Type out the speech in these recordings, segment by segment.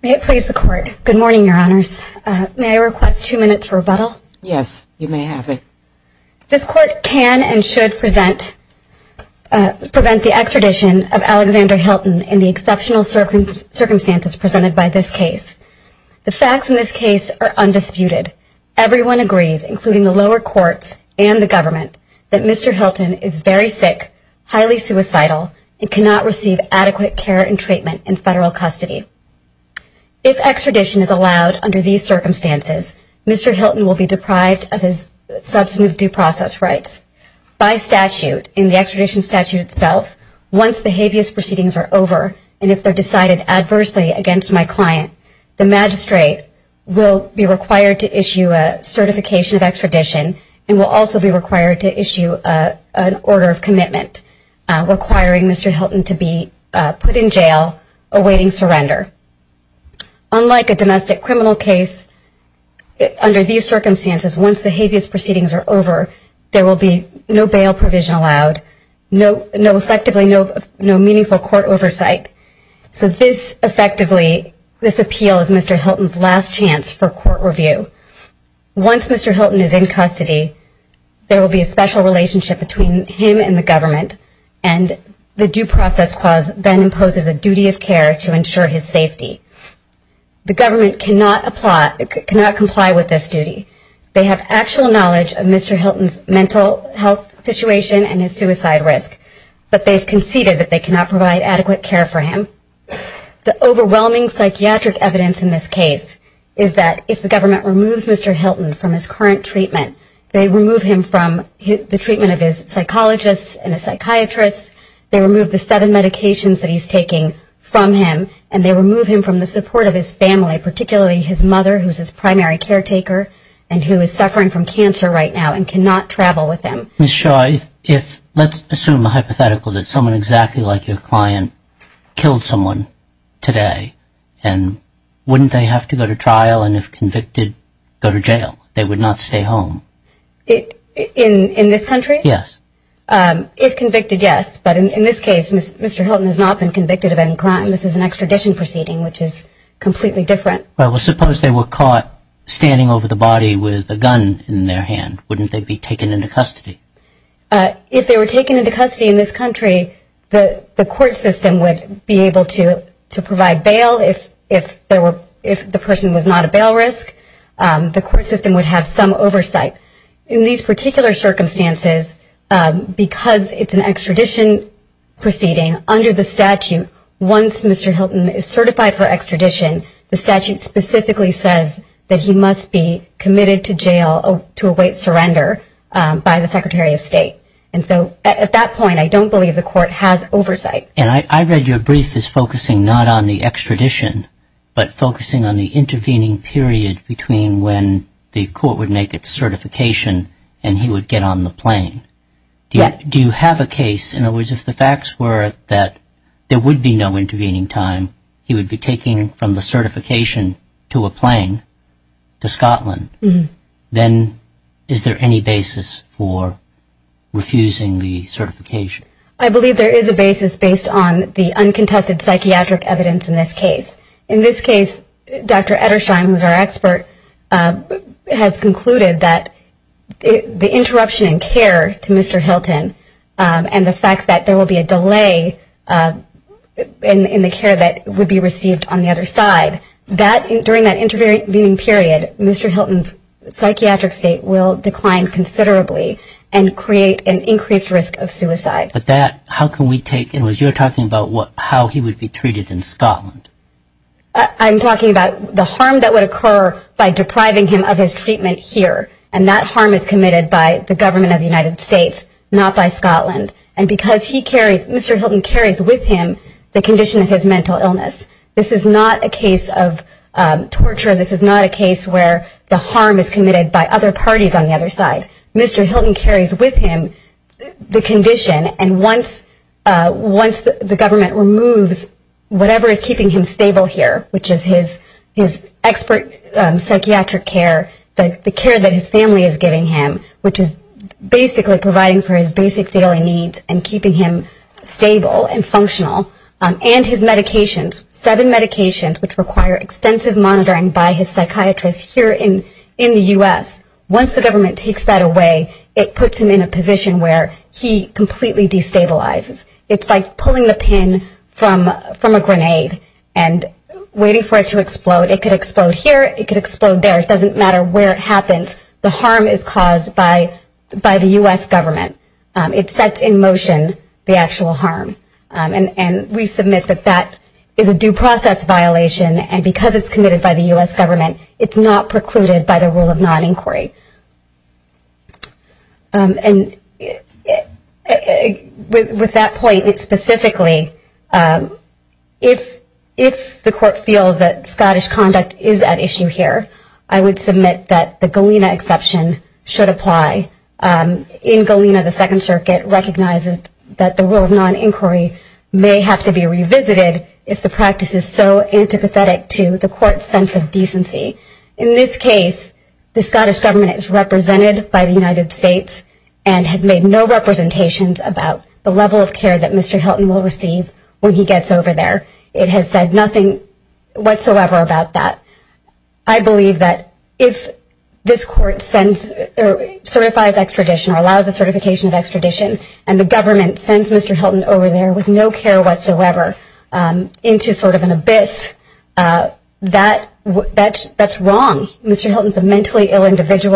May it please the Court. Good morning, Your Honors. May I request two minutes for rebuttal? Yes, you may have it. This Court can and should prevent the extradition of Alexander Hilton in the exceptional circumstances presented by this case. The facts in this case are undisputed. Everyone agrees, including the lower courts and the government, that Mr. Hilton is very sick, highly suicidal, and cannot receive adequate care and treatment in federal custody. If extradition is allowed under these circumstances, Mr. Hilton will be deprived of his substantive due process rights. By statute, in the extradition statute itself, once the habeas proceedings are over and if they're decided adversely against my client, the magistrate will be required to issue a certification of extradition and will also be required to issue an order of commitment requiring Mr. Hilton to be put in jail awaiting surrender. Unlike a domestic criminal case, under these circumstances, once the habeas proceedings are over, no extra provision allowed, effectively no meaningful court oversight. So this appeal is Mr. Hilton's last chance for court review. Once Mr. Hilton is in custody, there will be a special relationship between him and the government and the due process clause then imposes a duty of care to ensure his safety. The government cannot comply with this duty. They have actual knowledge of Mr. Hilton's mental health situation and his suicide risk, but they've conceded that they cannot provide adequate care for him. The overwhelming psychiatric evidence in this case is that if the government removes Mr. Hilton from his current treatment, they remove him from the treatment of his psychologists and his psychiatrists, they remove the seven medications that he's taking from him, and they remove him from the support of his family, particularly his mother, who's his primary caretaker and who is suffering from cancer right now and cannot travel with him. Ms. Shaw, let's assume a hypothetical that someone exactly like your client killed someone today, and wouldn't they have to go to trial, and if convicted, go to jail? They would not stay home. In this country? Yes. If convicted, yes, but in this case, Mr. Hilton has not been convicted of any crime. This is an extradition proceeding, which is completely different. Well, suppose they were caught standing over the body with a gun in their hand. Wouldn't they be taken into custody? If they were taken into custody in this country, the court system would be able to provide bail if the person was not a bail risk. The court system would have some oversight. In these particular circumstances, because it's an extradition proceeding, under the statute, once Mr. Hilton is certified for extradition, the statute specifically says that he must be committed to jail to await surrender by the Secretary of State, and so at that point, I don't believe the court has oversight. And I read your brief as focusing not on the extradition, but focusing on the intervening period between when the court would make its certification and he would get on the plane. Do you have a case, in other words, if the facts were that there would be no intervening time, he would be taking from the plane to Scotland, then is there any basis for refusing the certification? I believe there is a basis based on the uncontested psychiatric evidence in this case. In this case, Dr. Edersheim, who's our expert, has concluded that the interruption in care to Mr. Hilton and the fact that there will be a delay in the care that would be received on the other side, during that intervening period, Mr. Hilton's psychiatric state will decline considerably and create an increased risk of suicide. But that, how can we take, and you're talking about how he would be treated in Scotland. I'm talking about the harm that would occur by depriving him of his treatment here, and that harm is committed by the government of the United States, not by Scotland, and because he carries, Mr. Hilton carries with him the condition of his mental illness. This is not a case of torture, this is not a case where the harm is committed by other parties on the other side. Mr. Hilton carries with him the condition, and once the government removes whatever is keeping him stable here, which is his expert psychiatric care, the care that his family is giving him, which is basically providing for his basic daily needs and keeping him stable and functional, and his medications, seven medications, which require extensive monitoring by his psychiatrist here in the U.S. Once the government takes that away, it puts him in a position where he completely destabilizes. It's like pulling the pin from a grenade and waiting for it to explode. It could explode here, it could explode there, it doesn't matter where it actual harm, and we submit that that is a due process violation, and because it's committed by the U.S. government, it's not precluded by the rule of non-inquiry. And with that point, specifically, if the court feels that Scottish conduct is at issue here, I would submit that the Galena exception should apply. In Galena, the Second Circuit recognizes that the rule of non-inquiry may have to be revisited if the practice is so antipathetic to the court's sense of decency. In this case, the Scottish government is represented by the United States and has made no representations about the level of care that Mr. Hilton will receive when he gets over there. It has said nothing whatsoever about that. I would submit that the U.S. government is represented by the U.S. and has made no representations about the level of care that Mr. Hilton will receive when he gets over there. In Galena, the Second Circuit recognizes that the rule of non- may have to be revised. In Galena, the Scottish government is represented by the U.S. and has made no representations about the level of care that Mr. Hilton will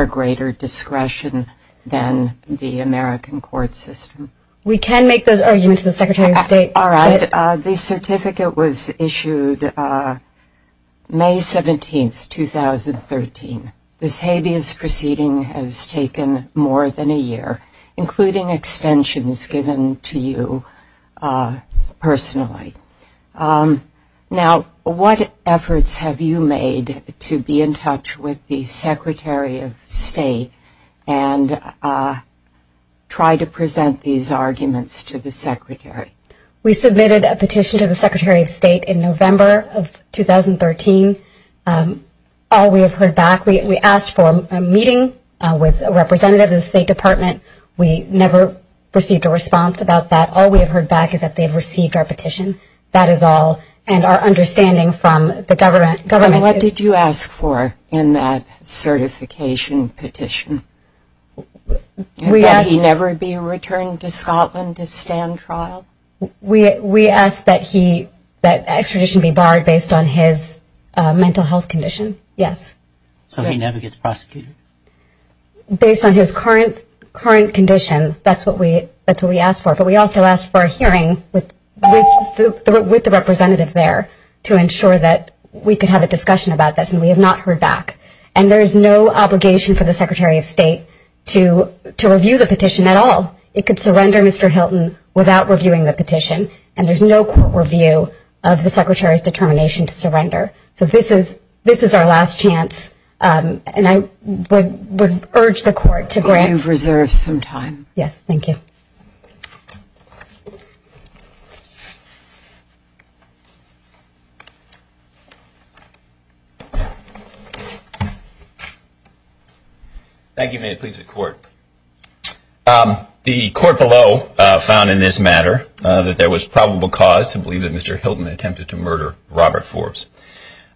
receive when he gets over there. The certificate was issued May 17, 2013. This habeas proceeding has taken more than a year, including extensions given to you personally. Now, what efforts have you made to be in touch with the Secretary of State and try to present these petitions to the Secretary? We submitted a petition to the Secretary of State in November of 2013. All we have heard back, we asked for a meeting with a representative of the State Department. We never received a response about that. All we have heard back is that they have received our petition. That is all. And our understanding from the government is... What did you ask for in that certification petition? We asked... Would he never be returned to Scotland to stand trial? We asked that he, that extradition be barred based on his mental health condition, yes. So he never gets prosecuted? Based on his current condition, that's what we asked for. But we also asked for a hearing with the representative there to ensure that we could have a discussion about this, and we have not heard back. And there is no obligation for the Secretary of State to review the petition at all. It could surrender Mr. Hilton without reviewing the petition, and there is no court review of the Secretary's determination to surrender. So this is our last chance, and I would urge the court to grant... You have reserved some time. Yes, thank you. Thank you. May it please the Court. The Court below found in this matter that there was probable cause to believe that Mr. Hilton attempted to murder Robert Forbes.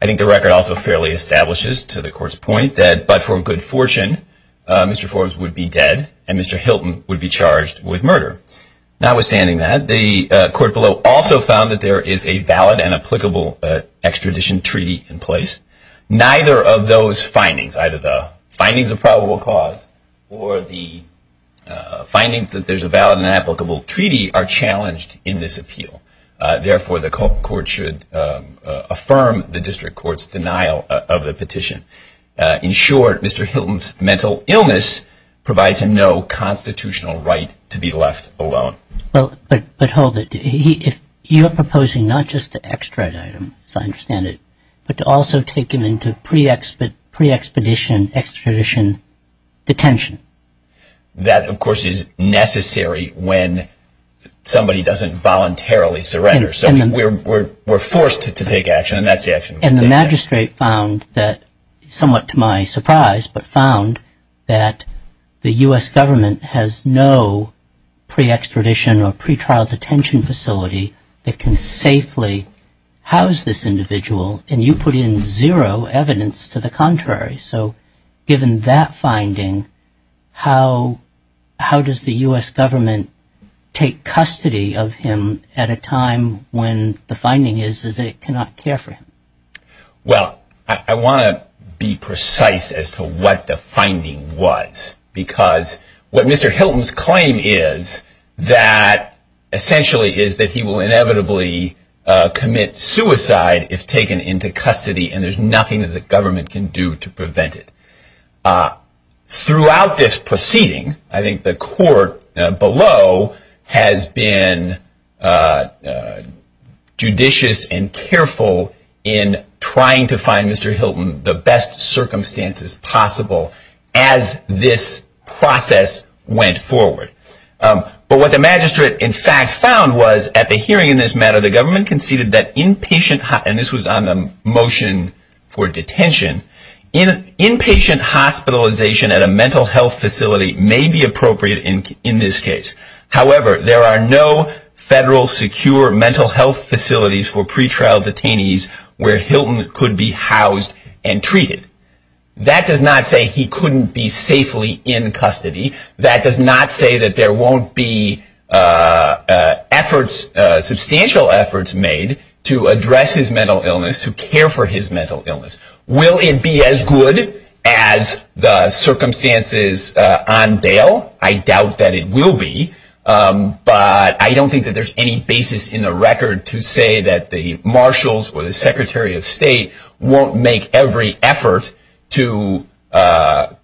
I think the record also fairly establishes, to the Court's point, that but for good fortune, Mr. Forbes would be dead, and Mr. Hilton would be charged with murder. Notwithstanding that, the Court below also found that there is a valid and applicable extradition treaty in place. Neither of those findings, either the findings that there is a valid and applicable treaty, are challenged in this appeal. Therefore, the Court should affirm the District Court's denial of the petition. In short, Mr. Hilton's mental illness provides him no constitutional right to be left alone. But hold it. You are proposing not just to extradite him, as I understand it, but to also take him into pre-expedition, extradition detention. That, of course, is necessary when somebody doesn't voluntarily surrender. So we're forced to take action, and that's the action we'll take. And the Magistrate found that, somewhat to my surprise, but found that the U.S. Government has no pre-extradition or pre-trial detention facility that can safely house this individual, and you put in zero evidence to the contrary. So given that finding, how does the U.S. Government take custody of him at a time when the finding is that it cannot care for him? Well, I want to be precise as to what the finding was, because what Mr. Hilton's claim is, essentially, is that he will inevitably commit suicide if taken into custody, and there's nothing that the government can do to prevent it. Throughout this proceeding, I think the court below has been judicious and careful in trying to find Mr. Hilton the best circumstances possible as this process went forward. But what the Magistrate, in fact, found was, at the hearing in this matter, the government conceded that inpatient, and this was on the motion for detention, inpatient hospitalization at a mental health facility may be appropriate in this case. However, there are no federal secure mental health facilities for pre-trial detainees where Hilton could be housed and treated. That does not say he couldn't be safely in a mental health facility. There won't be efforts, substantial efforts, made to address his mental illness, to care for his mental illness. Will it be as good as the circumstances on bail? I doubt that it will be, but I don't think that there's any basis in the record to say that the Marshals or the Secretary of State won't make every effort to stop,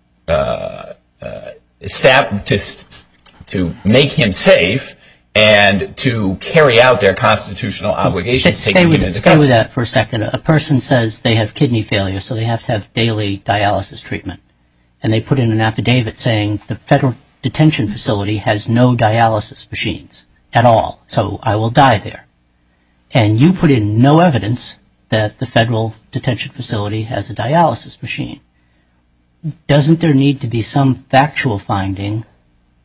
to stop his mental illness. To make him safe and to carry out their constitutional obligations. Stay with that for a second. A person says they have kidney failure, so they have to have daily dialysis treatment. And they put in an affidavit saying the federal detention facility has no dialysis machines at all, so I will die there. And you put in no evidence that the federal detention facility has a dialysis machine. Doesn't there need to be some factual finding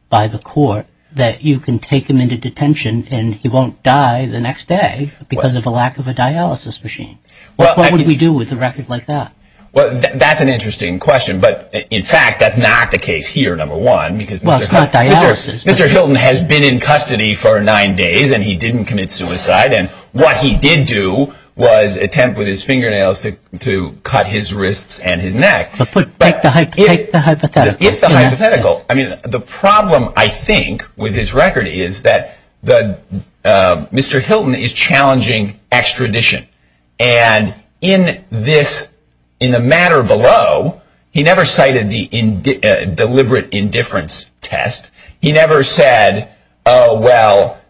by the court that you can take him into detention and he won't die the next day because of a lack of a dialysis machine? What would we do with a record like that? That's an interesting question, but in fact that's not the case here, number one. Well, it's not dialysis. Mr. Hilton has been in custody for nine days and he didn't commit suicide. And what he did do was attempt with his fingernails to cut his wrists and his neck. The problem, I think, with his record is that Mr. Hilton is challenging extradition. And in the matter below, he never cited the deliberate indifference test. He never said, oh, well,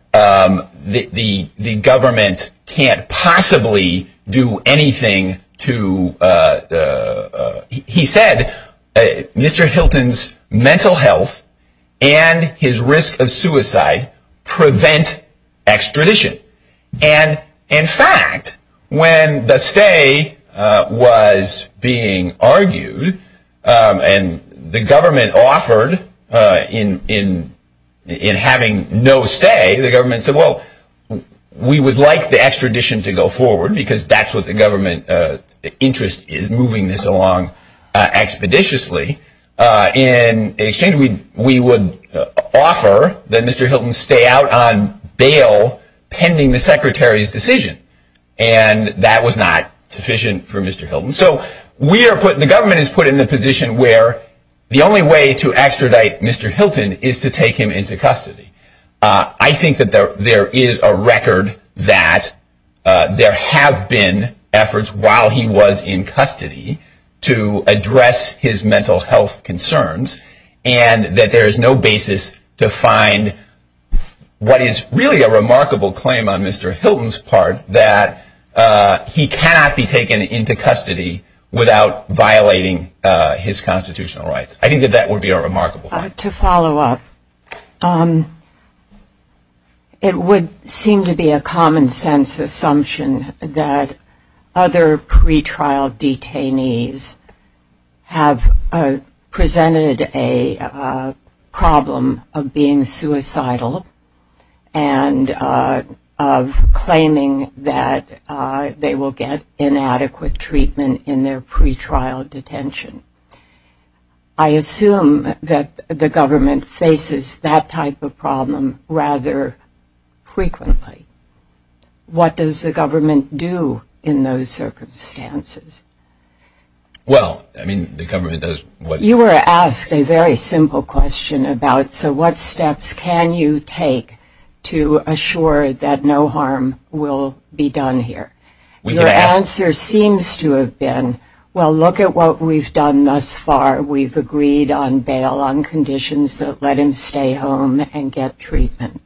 the government can't possibly do anything to, he said, Mr. Hilton's mental health and his risk of suicide prevent extradition. And, in fact, when the stay was being argued and the government offered in the case of in having no stay, the government said, well, we would like the extradition to go forward because that's what the government interest is, moving this along expeditiously, in exchange we would offer that Mr. Hilton stay out on bail pending the secretary's decision. And that was not sufficient for Mr. Hilton. So we are put, the government is put in the position where the only way to extradite Mr. Hilton is to take him into custody. I think that there is a record that there have been efforts while he was in custody to address his mental health concerns and that there is no basis to find what is really a remarkable claim on Mr. Hilton's part that he cannot be taken into custody without violating his constitutional rights. I think that that would be a remarkable claim. To follow up, it would seem to be a common sense assumption that other pre-trial detainees have presented a problem of being suicidal and of claiming that they will get inadequate treatment in their pre-trial detention. I assume that the government faces that type of problem rather frequently. What does the government do in those circumstances? Well, I mean, the government does what... You were asked a very simple question about, so what steps can you take to assure that no harm will be done here? Your answer seems to have been, well, look at what we've done. Thus far, we've agreed on bail on conditions that let him stay home and get treatment.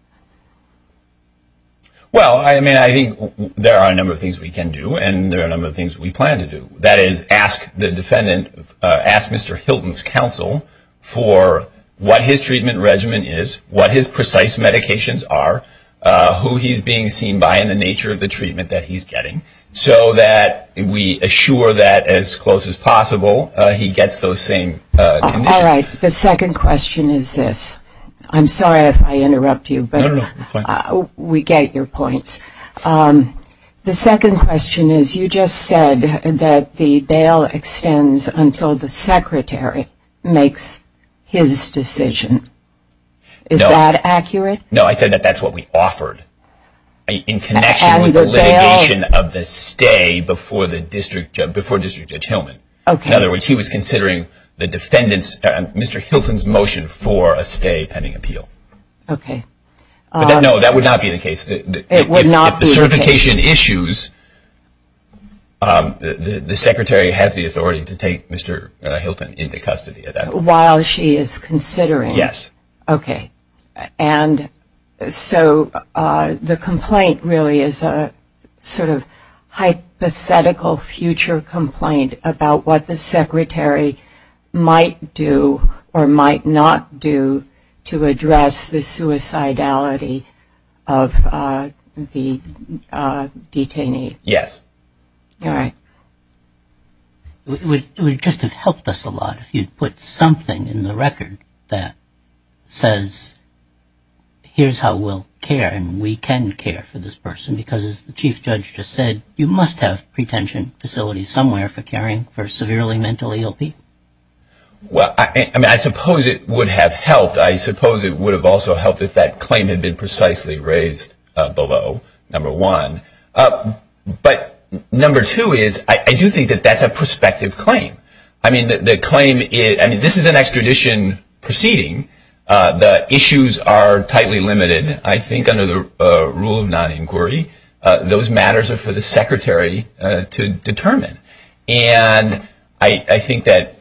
Well, I mean, I think there are a number of things we can do and there are a number of things we plan to do. That is, ask the defendant, ask Mr. Hilton's counsel for what his treatment regimen is, what his precise medications are, who he's being seen by, and the nature of the treatment that he's getting, so that we assure that as close as possible he gets those same conditions. The second question is this. I'm sorry if I interrupt you, but we get your points. The second question is, you just said that the bail extends until the secretary makes his decision. Is that accurate? No, I said that that's what we offered. In connection with the litigation of the stay before District Judge Hillman. In other words, he was considering the defendant's, Mr. Hilton's motion for a stay pending appeal. That would not be the case. It would not be the case. If the certification issues, the secretary has the authority to take Mr. Hilton into custody at that point. While she is considering. Yes. Okay. And so the complaint really is a sort of hypothetical future complaint about what the secretary might do or might not do to address the suicidality of the detainee. Yes. All right. It would just have helped us a lot if you'd put something in the record that says, here's how we'll care and we can care for this person. Because as the Chief Judge just said, you must have pretension facilities somewhere for caring for severely mentally ill people. Well, I suppose it would have helped. I suppose it would have also helped if that claim had been precisely raised below, number one. But number two is, I do think that that's a prospective claim. I mean, the claim is, I mean, this is an extradition proceeding. The issues are tightly limited. I think under the rule of non-inquiry, those matters are for the secretary to determine. And I think that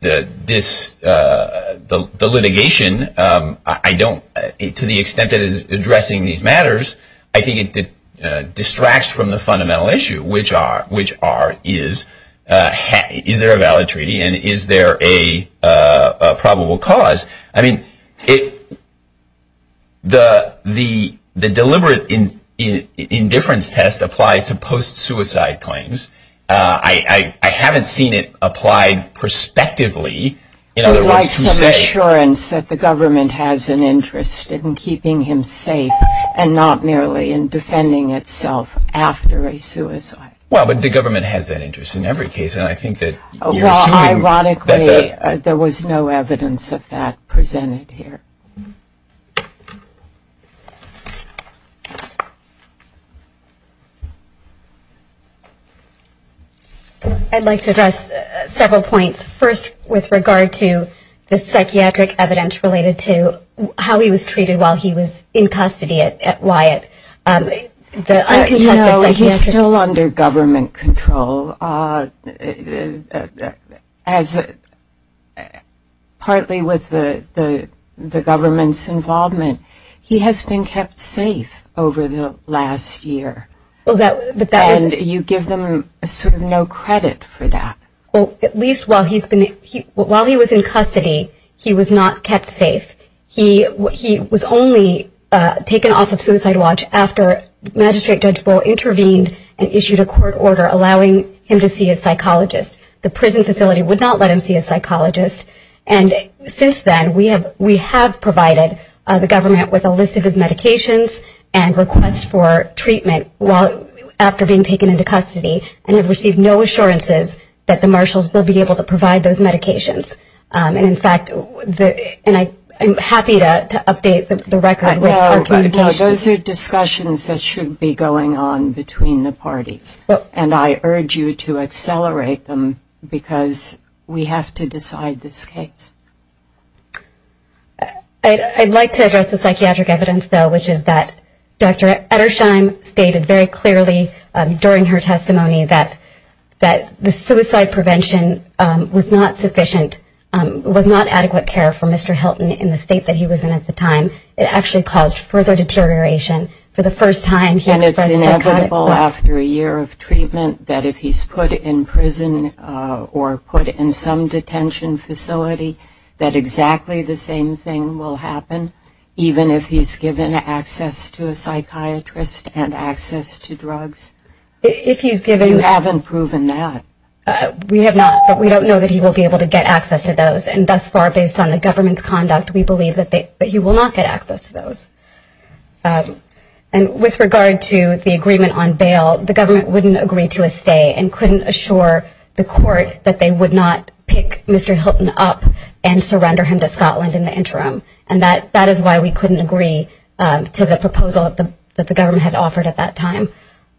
this, the litigation, I don't, to the extent that it is addressing these issues, I don't think it distracts from the fundamental issue, which are, is there a valid treaty and is there a probable cause? I mean, the deliberate indifference test applies to post-suicide claims. I haven't seen it applied prospectively. I would like some assurance that the government has an interest in keeping him safe and not merely in defending itself after a suicide. Well, but the government has that interest in every case. And I think that you're assuming that the... Well, ironically, there was no evidence of that presented here. I'd like to address several points. First, with regard to the psychiatric evidence related to how he was treated while he was in custody at Wyatt, the uncontested psychiatric... No, he's still under government control. As, partly with the government's involvement, he has been kept safe over the last year. And you give them sort of no credit for that. Well, at least while he's been, while he was in custody, he was not kept safe. He was only taken off of suicide watch after Magistrate Judge Bull intervened and issued a court order allowing him to see a psychologist. The prison facility would not let him see a psychologist. And since then, we have provided the government with a list of his medications and requests for treatment after being taken into custody and have received no assurances that the marshals will be able to provide those medications. And, in fact, I'm happy to update the record with our communications. Those are discussions that should be going on between the parties. And I urge you to accelerate them because we have to decide this case. I'd like to address the psychiatric evidence, though, which is that Dr. Ettersheim stated very clearly during her testimony that the suicide prevention was not sufficient, was not adequate care for Mr. Hilton in the state that he was in at the time. It actually caused further deterioration for the first time. And it's inevitable after a year of treatment that if he's put in prison or put in some detention facility that exactly the same thing will happen, even if he's given access to a psychiatrist and access to drugs? If he's given... You haven't proven that. We have not, but we don't know that he will be able to get access to those. And thus far, based on the government's conduct, we believe that he will not get access to those. And with regard to the agreement on bail, the government wouldn't agree to a stay and couldn't assure the court that they would not pick Mr. Hilton up and surrender him to Scotland in the interim. And that is why we couldn't agree to the proposal that the government had offered at that time.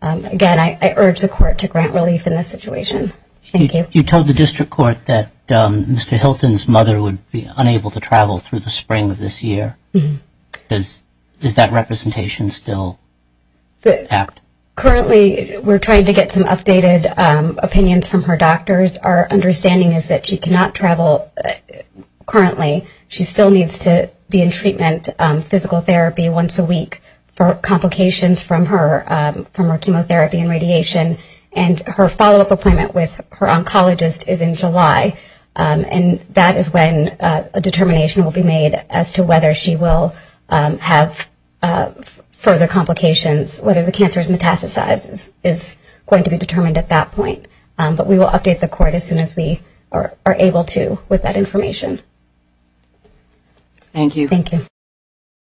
Again, I urge the court to grant relief in this situation. Thank you. You told the district court that Mr. Hilton's mother would be unable to travel through the spring of this year. Is that representation still apt? Currently, we're trying to get some updated opinions from her doctors. Our understanding is that she cannot travel currently. She still needs to be in treatment, physical therapy once a week for complications from her chemotherapy and radiation. And her follow-up appointment with her oncologist is in July. And that is when a determination will be made as to whether she will have further complications, whether the cancer is metastasized is going to be determined at that point. But we will update the court as soon as we are able to with that information. Thank you. Thank you.